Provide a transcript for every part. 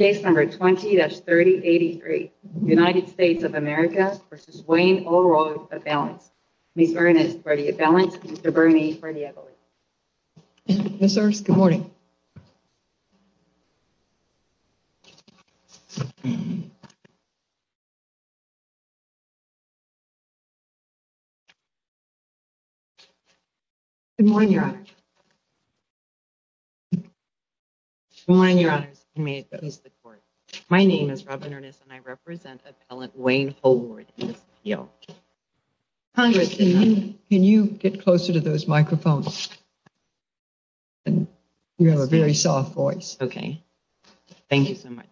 Ms. Ernest, Mr. Bernie, Mr. Bernie Eberle. Good morning. Good morning, Your Honor. Good morning, Your Honor. My name is Robin Ernest and I represent appellant Wayne Holroyd in this appeal. Congress did not... Can you get closer to those microphones? You have a very soft voice. Okay. Thank you so much.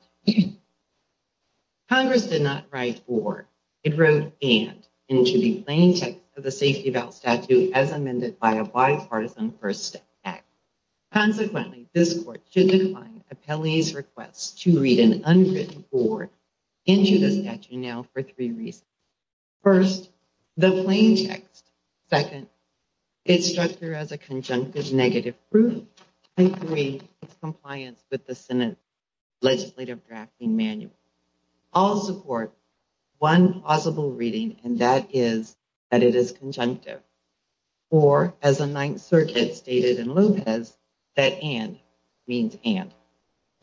Congress did not write for, it wrote and, into the plain text of the Safety Vow Statute as amended by a bipartisan First Act. Consequently, this court should decline appellee's request to read an unwritten board into the statute now for three reasons. First, the plain text. Second, it's structured as a conjunctive negative proof. And three, it's compliant with the Senate Legislative Drafting Manual. All support one plausible reading and that is that it is conjunctive. Or, as the Ninth Circuit stated in Lopez, that and means and.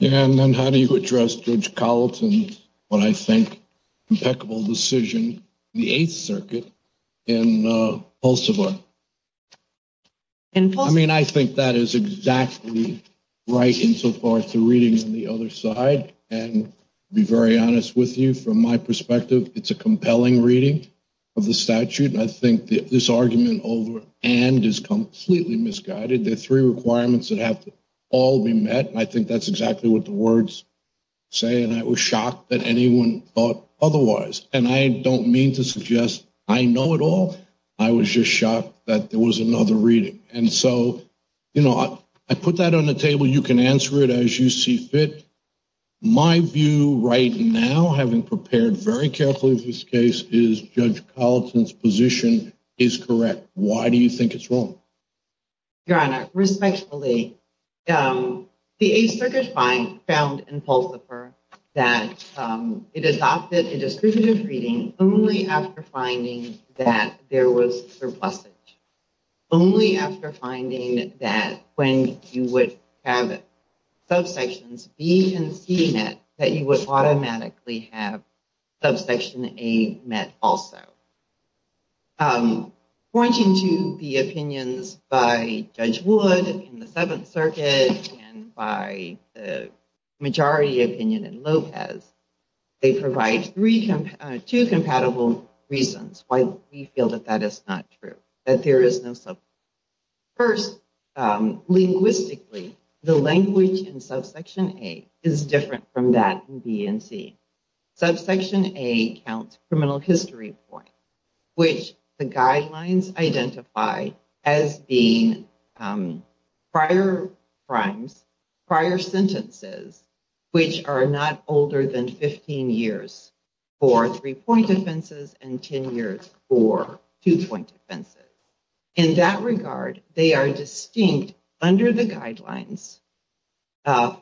And then how do you address Judge Colleton's, what I think, impeccable decision in the Eighth Circuit in Pulsivar? I mean, I think that is exactly right insofar as the reading on the other side. And to be very honest with you, from my perspective, it's a compelling reading of the statute. And I think this argument over and is completely misguided. There are three requirements that have to all be met. And I think that's exactly what the words say. And I was shocked that anyone thought otherwise. And I don't mean to suggest I know it all. I was just shocked that there was another reading. And so, you know, I put that on the table. You can answer it as you see fit. My view right now, having prepared very carefully for this case, is Judge Colleton's position is correct. Why do you think it's wrong? Your Honor, respectfully, the Eighth Circuit found in Pulsivar that it adopted a descriptive reading only after finding that there was surplusage. Only after finding that when you would have subsections B and C met, that you would automatically have subsection A met also. Pointing to the opinions by Judge Wood in the Seventh Circuit and by the majority opinion in Lopez, they provide two compatible reasons why we feel that that is not true. That there is no surplus. First, linguistically, the language in subsection A is different from that in B and C. Subsection A counts criminal history points, which the guidelines identify as being prior crimes, prior sentences, which are not older than 15 years for three-point offenses and 10 years for two-point offenses. In that regard, they are distinct under the guidelines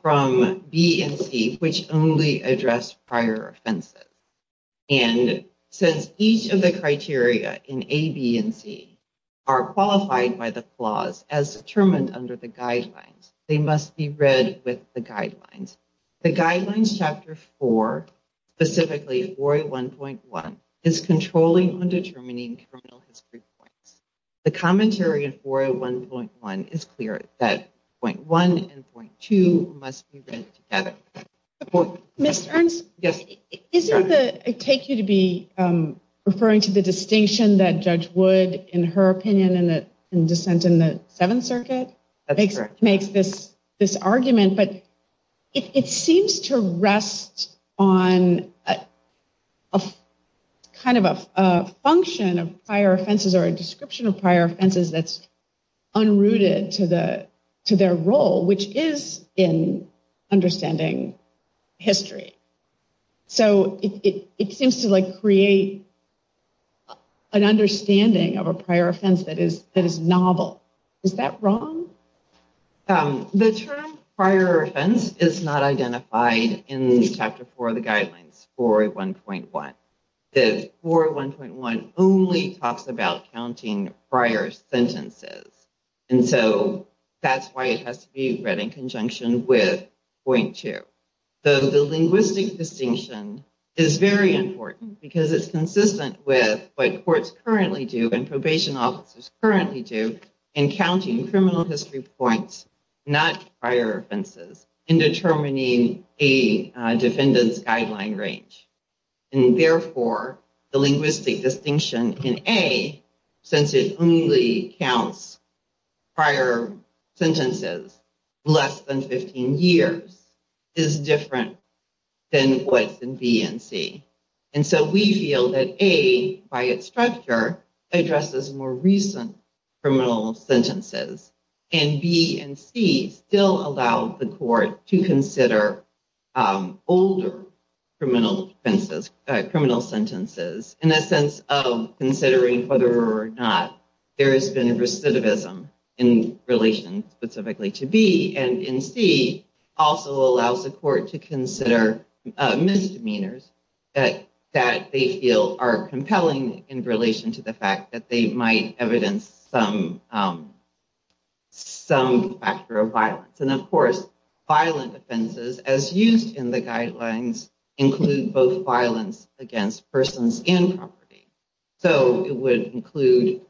from B and C, which only address prior offenses. And since each of the criteria in A, B, and C are qualified by the clause as determined under the guidelines, they must be read with the guidelines. The guidelines chapter four, specifically 4A1.1, is controlling undetermining criminal history points. The commentary in 4A1.1 is clear that point one and point two must be read together. Ms. Ernst, isn't it take you to be referring to the distinction that Judge Wood, in her opinion in dissent in the Seventh Circuit, makes this argument? It seems to rest on kind of a function of prior offenses or a description of prior offenses that's unrooted to their role, which is in understanding history. So it seems to create an understanding of a prior offense that is novel. Is that wrong? The term prior offense is not identified in chapter four of the guidelines, 4A1.1. The 4A1.1 only talks about counting prior sentences. And so that's why it has to be read in conjunction with point two. The linguistic distinction is very important because it's consistent with what courts currently do and probation officers currently do in counting criminal history points, not prior offenses, in determining a defendant's guideline range. And therefore, the linguistic distinction in A, since it only counts prior sentences less than 15 years, is different than what's in B and C. And so we feel that A, by its structure, addresses more recent criminal sentences. And B and C still allow the court to consider older criminal sentences in a sense of considering whether or not there has been recidivism in relation specifically to B. And C also allows the court to consider misdemeanors that they feel are compelling in relation to the fact that they might evidence some factor of violence. And of course, violent offenses, as used in the guidelines, include both violence against persons and property. So it would include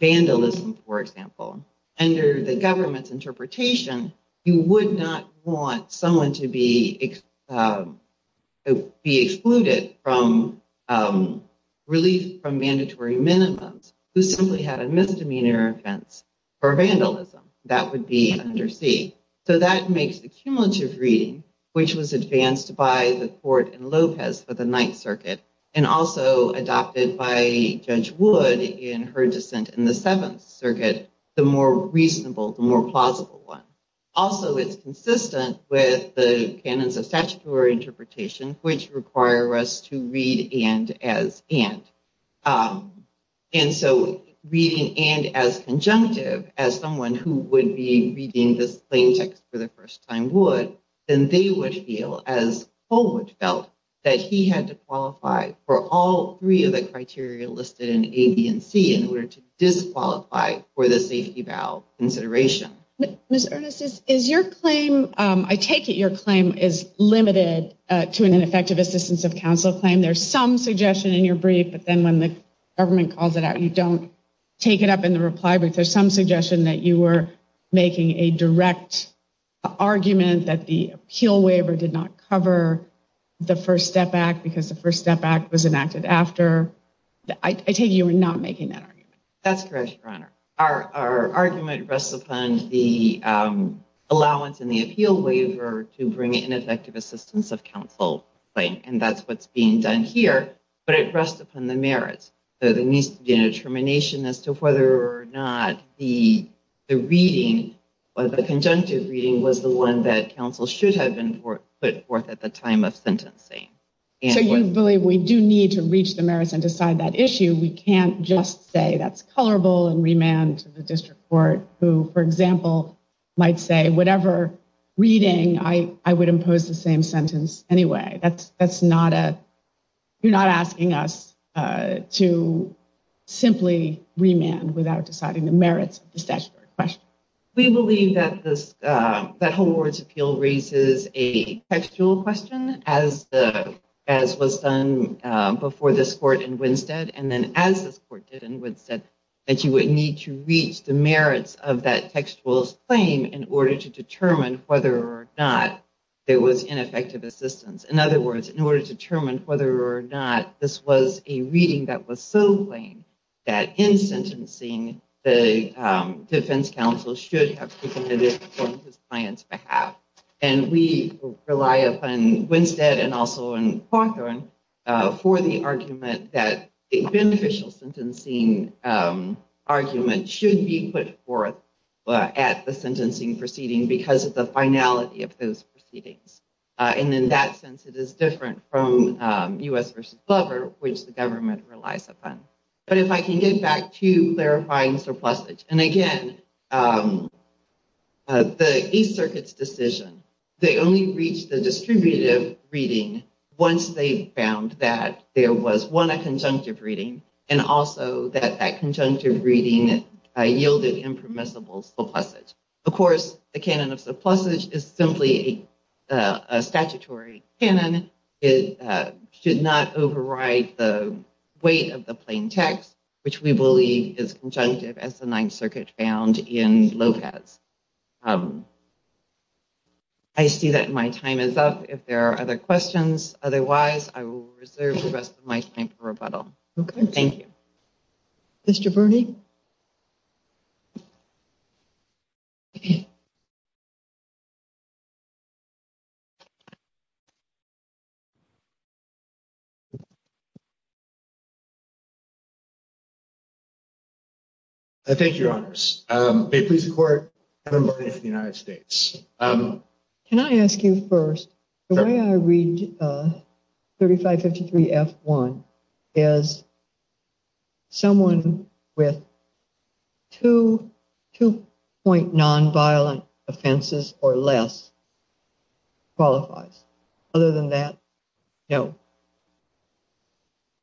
vandalism, for example. Under the government's interpretation, you would not want someone to be excluded from relief from mandatory minimums who simply had a misdemeanor offense for vandalism. That would be under C. So that makes the cumulative reading, which was advanced by the court in Lopez for the Ninth Circuit and also adopted by Judge Wood in her dissent in the Seventh Circuit, the more reasonable, the more plausible one. Also, it's consistent with the canons of statutory interpretation, which require us to read and as and. And so reading and as conjunctive as someone who would be reading this plain text for the first time would, then they would feel, as Holwood felt, that he had to qualify for all three of the criteria listed in A, B, and C in order to disqualify for the safety valve consideration. Ms. Ernest, I take it your claim is limited to an ineffective assistance of counsel claim. There's some suggestion in your brief, but then when the government calls it out, you don't take it up in the reply brief. There's some suggestion that you were making a direct argument that the appeal waiver did not cover the First Step Act because the First Step Act was enacted after. I take it you were not making that argument. That's correct, Your Honor. Our argument rests upon the allowance in the appeal waiver to bring an ineffective assistance of counsel claim, and that's what's being done here. But it rests upon the merits. There needs to be a determination as to whether or not the reading, the conjunctive reading, was the one that counsel should have put forth at the time of sentencing. So you believe we do need to reach the merits and decide that issue? We can't just say that's colorable and remand to the district court who, for example, might say whatever reading, I would impose the same sentence anyway. You're not asking us to simply remand without deciding the merits of the statutory question. We believe that the whole words of the appeal raises a textual question, as was done before this court in Winstead. And then as this court did in Winstead, that you would need to reach the merits of that textual claim in order to determine whether or not there was ineffective assistance. In other words, in order to determine whether or not this was a reading that was so plain that in sentencing, the defense counsel should have submitted it on his client's behalf. And we rely upon Winstead and also on Cawthorn for the argument that a beneficial sentencing argument should be put forth at the sentencing proceeding because of the finality of those proceedings. And in that sense, it is different from U.S. v. Glover, which the government relies upon. But if I can get back to clarifying surplusage, and again, the East Circuit's decision, they only reached the distributive reading once they found that there was one conjunctive reading and also that that conjunctive reading yielded impermissible surplusage. Of course, the canon of surplusage is simply a statutory canon. It should not override the weight of the plain text, which we believe is conjunctive as the Ninth Circuit found in Lopez. I see that my time is up. If there are other questions, otherwise, I will reserve the rest of my time for rebuttal. Thank you. Mr. Birney? Thank you, Your Honors. May it please the Court, I'm a member of the United States. Can I ask you first, the way I read 3553 F1 is someone with two point nonviolent offenses or less qualifies. Other than that, no.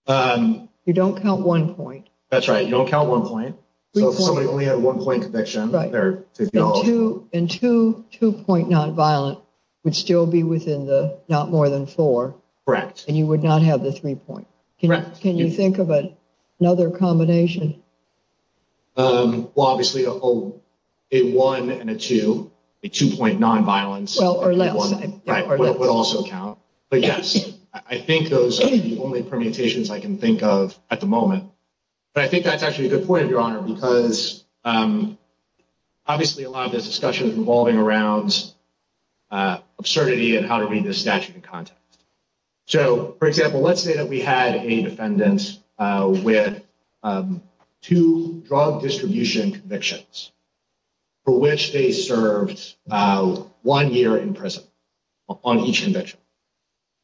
You don't count one point. That's right. You don't count one point. So if somebody only had one point conviction, they're to be held. And two point nonviolent would still be within the not more than four. Correct. And you would not have the three point. Correct. Can you think of another combination? Well, obviously, a one and a two, a two point nonviolence would also count. But yes, I think those are the only permutations I can think of at the moment. But I think that's actually a good point, Your Honor, because obviously a lot of this discussion is revolving around absurdity and how to read the statute in context. So, for example, let's say that we had a defendant with two drug distribution convictions for which they served one year in prison on each conviction.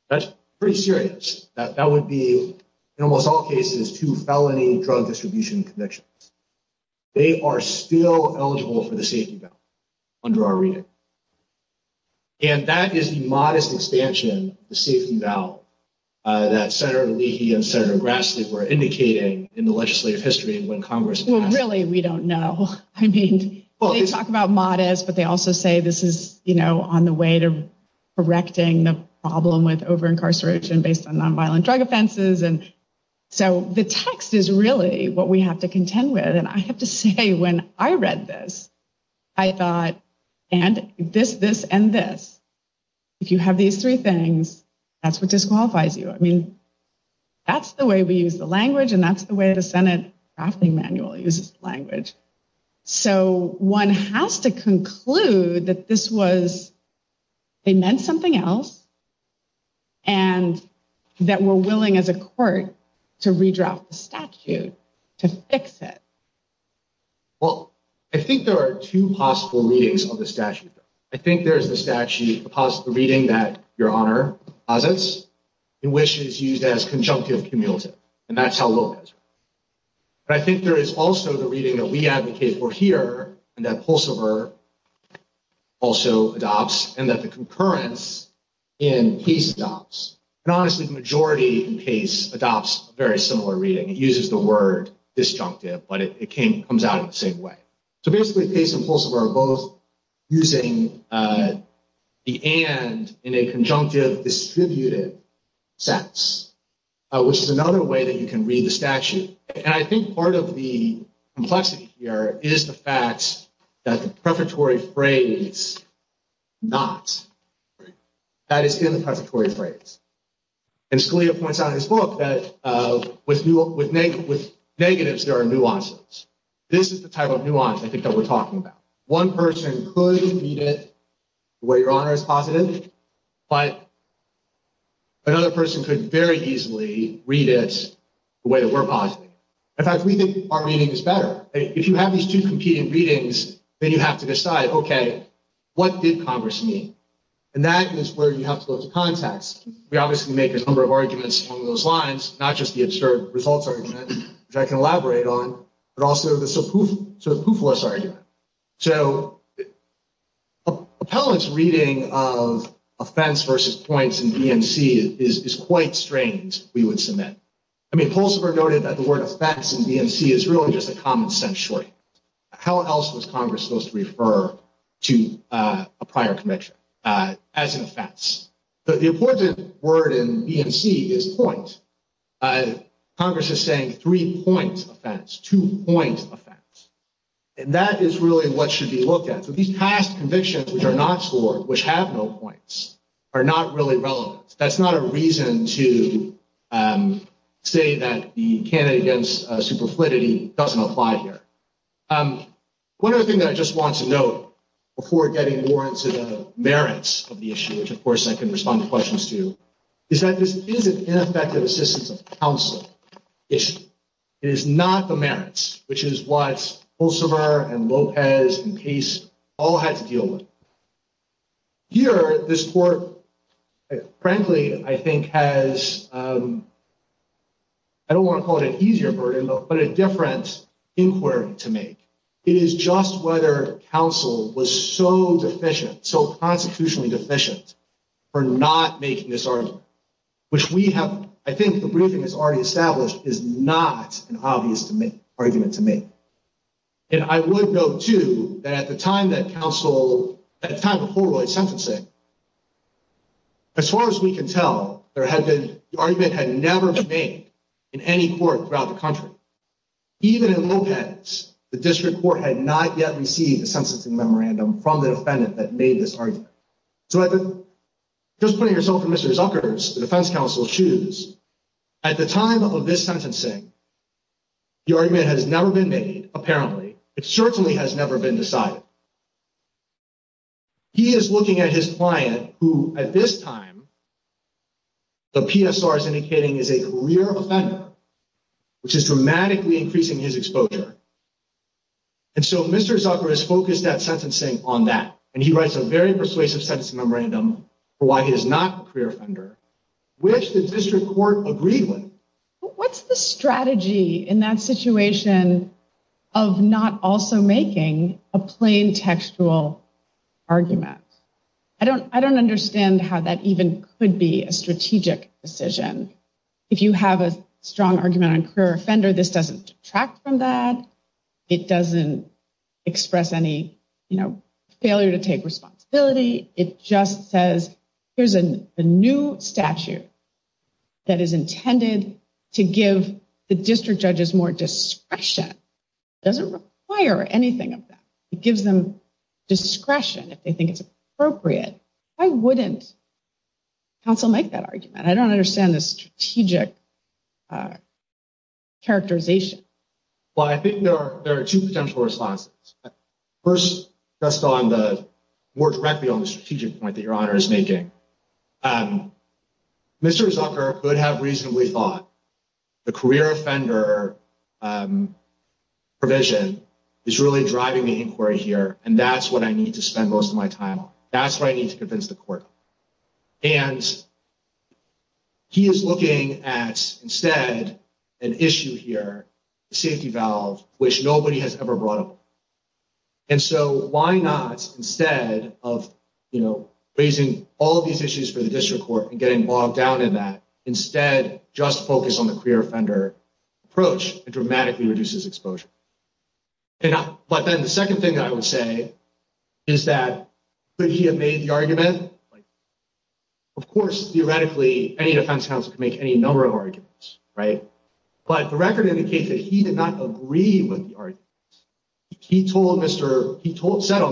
That's pretty serious. That would be, in almost all cases, two felony drug distribution convictions. They are still eligible for the safety valid under our reading. And that is the modest expansion of the safety valid that Senator Leahy and Senator Grassley were indicating in the legislative history when Congress passed it. Well, really, we don't know. I mean, they talk about modest, but they also say this is, you know, on the way to correcting the problem with over incarceration based on nonviolent drug offenses. And so the text is really what we have to contend with. And I have to say, when I read this, I thought, and this, this and this. If you have these three things, that's what disqualifies you. I mean, that's the way we use the language and that's the way the Senate drafting manual uses language. So one has to conclude that this was, they meant something else. And that we're willing as a court to redraft the statute to fix it. Well, I think there are two possible readings of the statute. I think there is the statute, the reading that your Honor posits, in which it is used as conjunctive cumulative. And that's how low it is. But I think there is also the reading that we advocate for here, and that Pulsiver also adopts, and that the concurrence in Case adopts. And honestly, the majority in Case adopts a very similar reading. It uses the word disjunctive, but it comes out in the same way. So basically Case and Pulsiver are both using the and in a conjunctive distributed sense. Which is another way that you can read the statute. And I think part of the complexity here is the fact that the prefatory phrase, not, that is in the prefatory phrase. And Scalia points out in his book that with negatives there are nuances. This is the type of nuance I think that we're talking about. One person could read it the way your Honor is positive, but another person could very easily read it the way that we're positive. In fact, we think our reading is better. If you have these two competing readings, then you have to decide, okay, what did Congress mean? And that is where you have to go to context. We obviously make a number of arguments along those lines. Not just the absurd results argument, which I can elaborate on, but also the poofless argument. So appellant's reading of offense versus points in BMC is quite strange, we would submit. I mean, Pulsiver noted that the word offense in BMC is really just a common sense shortening. How else was Congress supposed to refer to a prior conviction as an offense? The important word in BMC is point. Congress is saying three-point offense, two-point offense. And that is really what should be looked at. So these past convictions which are not scored, which have no points, are not really relevant. That's not a reason to say that the candidate against superfluidity doesn't apply here. One other thing that I just want to note before getting more into the merits of the issue, which of course I can respond to questions to, is that this is an ineffective assistance of counsel issue. It is not the merits, which is what Pulsiver and Lopez and Case all had to deal with. Here, this court, frankly, I think has, I don't want to call it an easier burden, but a different inquiry to make. It is just whether counsel was so deficient, so constitutionally deficient, for not making this argument. Which we have, I think the briefing has already established, is not an obvious argument to make. And I would note, too, that at the time of Holroyd's sentencing, as far as we can tell, the argument had never been made in any court throughout the country. Even in Lopez, the district court had not yet received a sentencing memorandum from the defendant that made this argument. So just putting yourself in Mr. Zucker's, the defense counsel's, shoes, at the time of this sentencing, the argument has never been made, apparently. It certainly has never been decided. He is looking at his client, who at this time, the PSR is indicating, is a career offender, which is dramatically increasing his exposure. And so Mr. Zucker is focused at sentencing on that, and he writes a very persuasive sentencing memorandum for why he is not a career offender, which the district court agreed with. What's the strategy in that situation of not also making a plain textual argument? I don't understand how that even could be a strategic decision. If you have a strong argument on career offender, this doesn't detract from that. It doesn't express any failure to take responsibility. It just says, here's a new statute that is intended to give the district judges more discretion. It doesn't require anything of them. It gives them discretion if they think it's appropriate. Why wouldn't counsel make that argument? I don't understand the strategic characterization. Well, I think there are two potential responses. First, just more directly on the strategic point that Your Honor is making, Mr. Zucker could have reasonably thought the career offender provision is really driving the inquiry here, and that's what I need to spend most of my time on. That's what I need to convince the court. And he is looking at, instead, an issue here, the safety valve, which nobody has ever brought up. And so why not, instead of, you know, raising all of these issues for the district court and getting bogged down in that, instead just focus on the career offender approach, it dramatically reduces exposure. But then the second thing I would say is that could he have made the argument? Of course, theoretically, any defense counsel could make any number of arguments, right? But the record indicates that he did not agree with the argument. He said on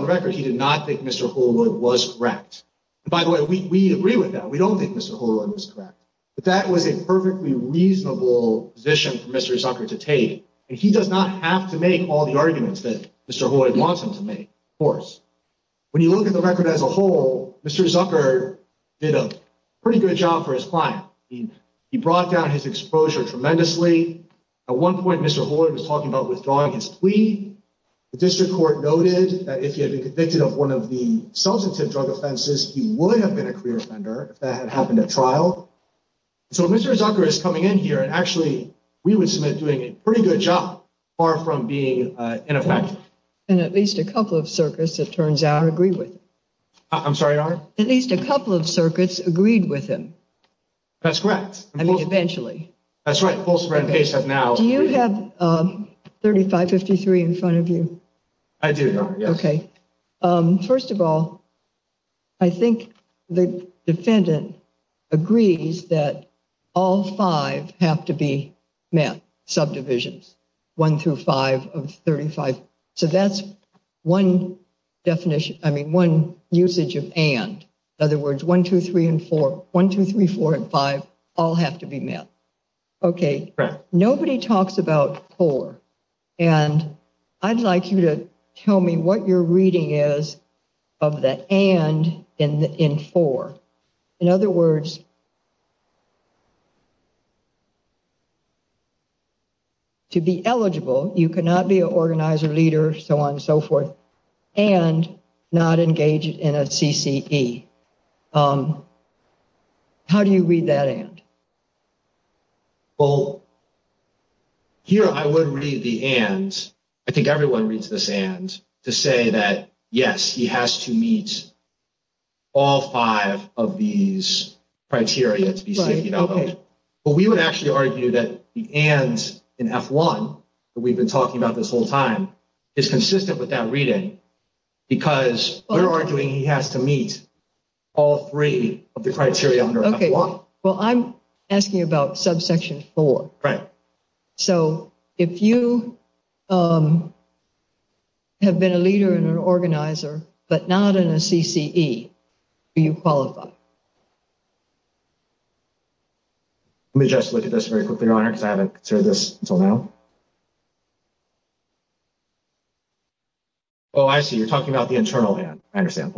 the record he did not think Mr. Holwood was correct. And by the way, we agree with that. We don't think Mr. Holwood was correct. But that was a perfectly reasonable position for Mr. Zucker to take. And he does not have to make all the arguments that Mr. Holwood wants him to make, of course. When you look at the record as a whole, Mr. Zucker did a pretty good job for his client. He brought down his exposure tremendously. At one point, Mr. Holwood was talking about withdrawing his plea. The district court noted that if he had been convicted of one of the substantive drug offenses, he would have been a career offender if that had happened at trial. So Mr. Zucker is coming in here, and actually we would submit doing a pretty good job, far from being ineffective. And at least a couple of circuits, it turns out, agree with him. I'm sorry? At least a couple of circuits agreed with him. That's correct. I mean, eventually. That's right. Do you have 3553 in front of you? I do. Okay. First of all, I think the defendant agrees that all five have to be met, subdivisions, one through five of 35. So that's one definition. I mean, one usage of and. In other words, one, two, three, and four. One, two, three, four, and five all have to be met. Okay. Nobody talks about four. And I'd like you to tell me what your reading is of the and in four. In other words, to be eligible, you cannot be an organizer, leader, so on and so forth, and not engage in a CCE. How do you read that and? Well, here I would read the and. I think everyone reads this and to say that, yes, he has to meet all five of these criteria to be CCE eligible. But we would actually argue that the and in F1 that we've been talking about this whole time is consistent with that reading because we're arguing he has to meet all three of the criteria under F1. Well, I'm asking about subsection four. Right. So if you have been a leader and an organizer, but not in a CCE, do you qualify? Let me just look at this very quickly, Your Honor, because I haven't considered this until now. Oh, I see. You're talking about the internal and I understand.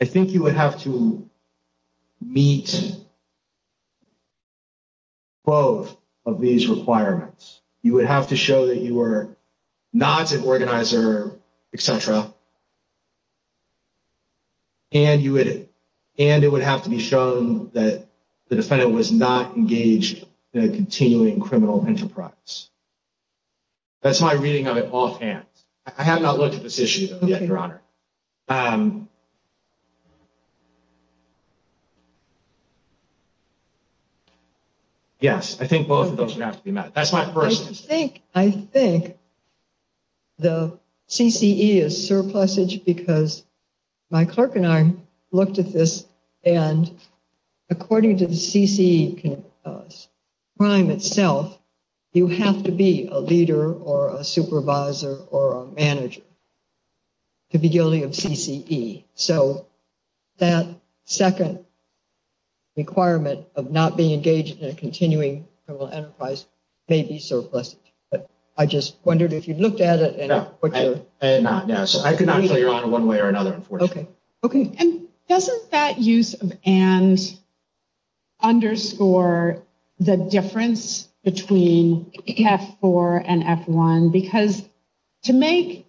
I think you would have to meet. Both of these requirements, you would have to show that you were not an organizer, etc. And you would and it would have to be shown that the defendant was not engaged in a continuing criminal enterprise. That's my reading of it offhand. I have not looked at this issue yet, Your Honor. Yes, I think both of those would have to be met. That's my first. I think the CCE is surplusage because my clerk and I looked at this and according to the CCE crime itself, you have to be a leader or a supervisor or a manager to be guilty of CCE. So that second requirement of not being engaged in a continuing criminal enterprise may be surplusage. But I just wondered if you looked at it. I did not. I could not, Your Honor, one way or another, unfortunately. Okay. Because to make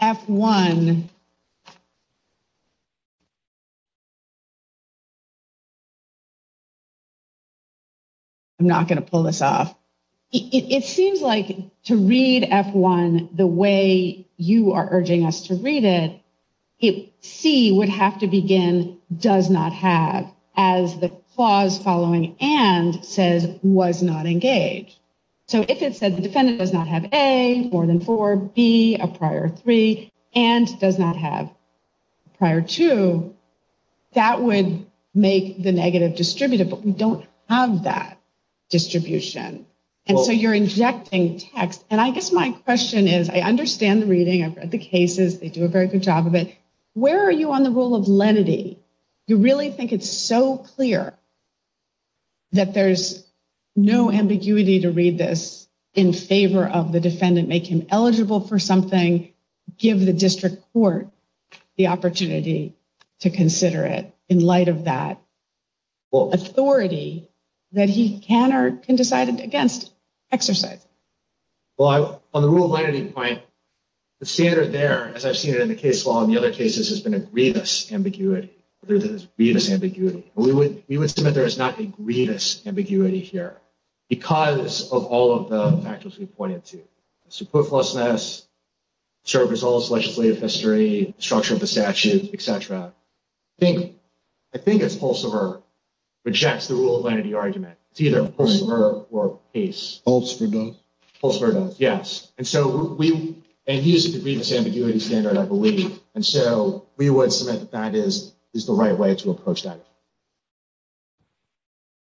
F1, I'm not going to pull this off. It seems like to read F1 the way you are urging us to read it, C would have to begin does not have as the clause following and says was not engaged. So if it says the defendant does not have A, more than four, B, a prior three, and does not have prior two, that would make the negative distributed. But we don't have that distribution. And so you're injecting text. And I guess my question is I understand the reading. I've read the cases. They do a very good job of it. Where are you on the rule of lenity? You really think it's so clear that there's no ambiguity to read this in favor of the defendant, make him eligible for something, give the district court the opportunity to consider it in light of that authority that he can or can decide against exercising? Well, on the rule of lenity point, the standard there, as I've seen it in the case law and the other cases, has been a greedous ambiguity. There's a greedous ambiguity. We would submit there is not a greedous ambiguity here because of all of the factors we pointed to. Support for us, serve as all legislative history, structure of the statute, et cetera. I think it's also rejects the rule of lenity argument. It's either a pulse or a case. Pulse for both. Pulse for both, yes. And so we use a greedous ambiguity standard, I believe. And so we would submit that that is the right way to approach that.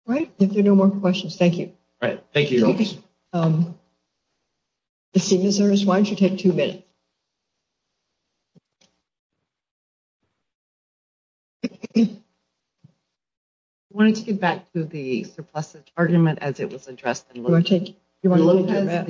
All right. If there are no more questions, thank you. All right. Thank you, Your Honors. Ms. Cenezares, why don't you take two minutes? I wanted to get back to the surplus argument as it was addressed in Lopez. You want to take that?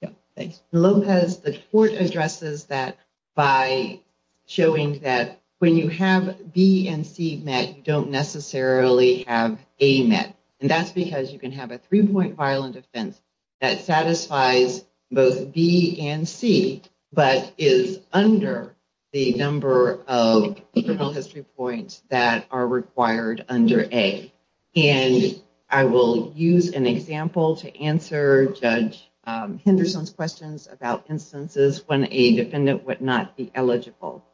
Yeah, thanks. In Lopez, the court addresses that by showing that when you have B and C met, you don't necessarily have A met. And that's because you can have a three-point violent offense that satisfies both B and C, but is under the number of criminal history points that are required under A. And I will use an example to answer Judge Henderson's questions about instances when a defendant would not be eligible.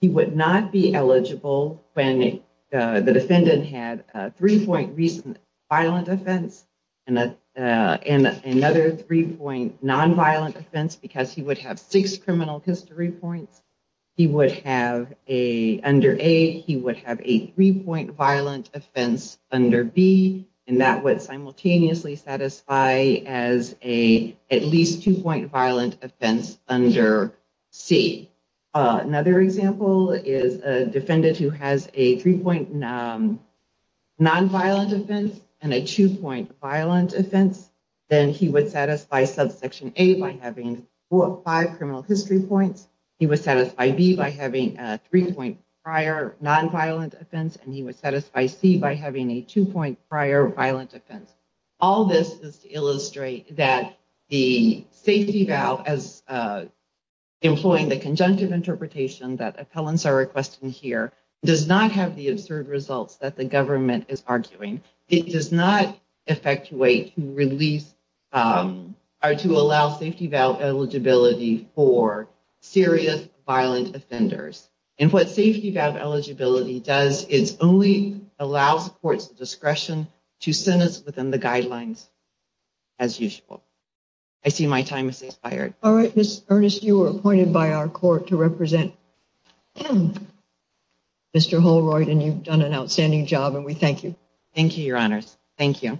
He would not be eligible when the defendant had a three-point recent violent offense and another three-point nonviolent offense because he would have six criminal history points. He would have, under A, he would have a three-point violent offense under B, and that would simultaneously satisfy as a at least two-point violent offense under C. Another example is a defendant who has a three-point nonviolent offense and a two-point violent offense. Then he would satisfy subsection A by having four or five criminal history points. He would satisfy B by having a three-point prior nonviolent offense, and he would satisfy C by having a two-point prior violent offense. All this is to illustrate that the safety valve, as employing the conjunctive interpretation that appellants are requesting here, does not have the absurd results that the government is arguing. It does not effectuate release or to allow safety valve eligibility for serious violent offenders. And what safety valve eligibility does is only allow the court's discretion to sentence within the guidelines as usual. I see my time has expired. All right, Ms. Earnest, you were appointed by our court to represent Mr. Holroyd, and you've done an outstanding job, and we thank you. Thank you, Your Honors. Thank you.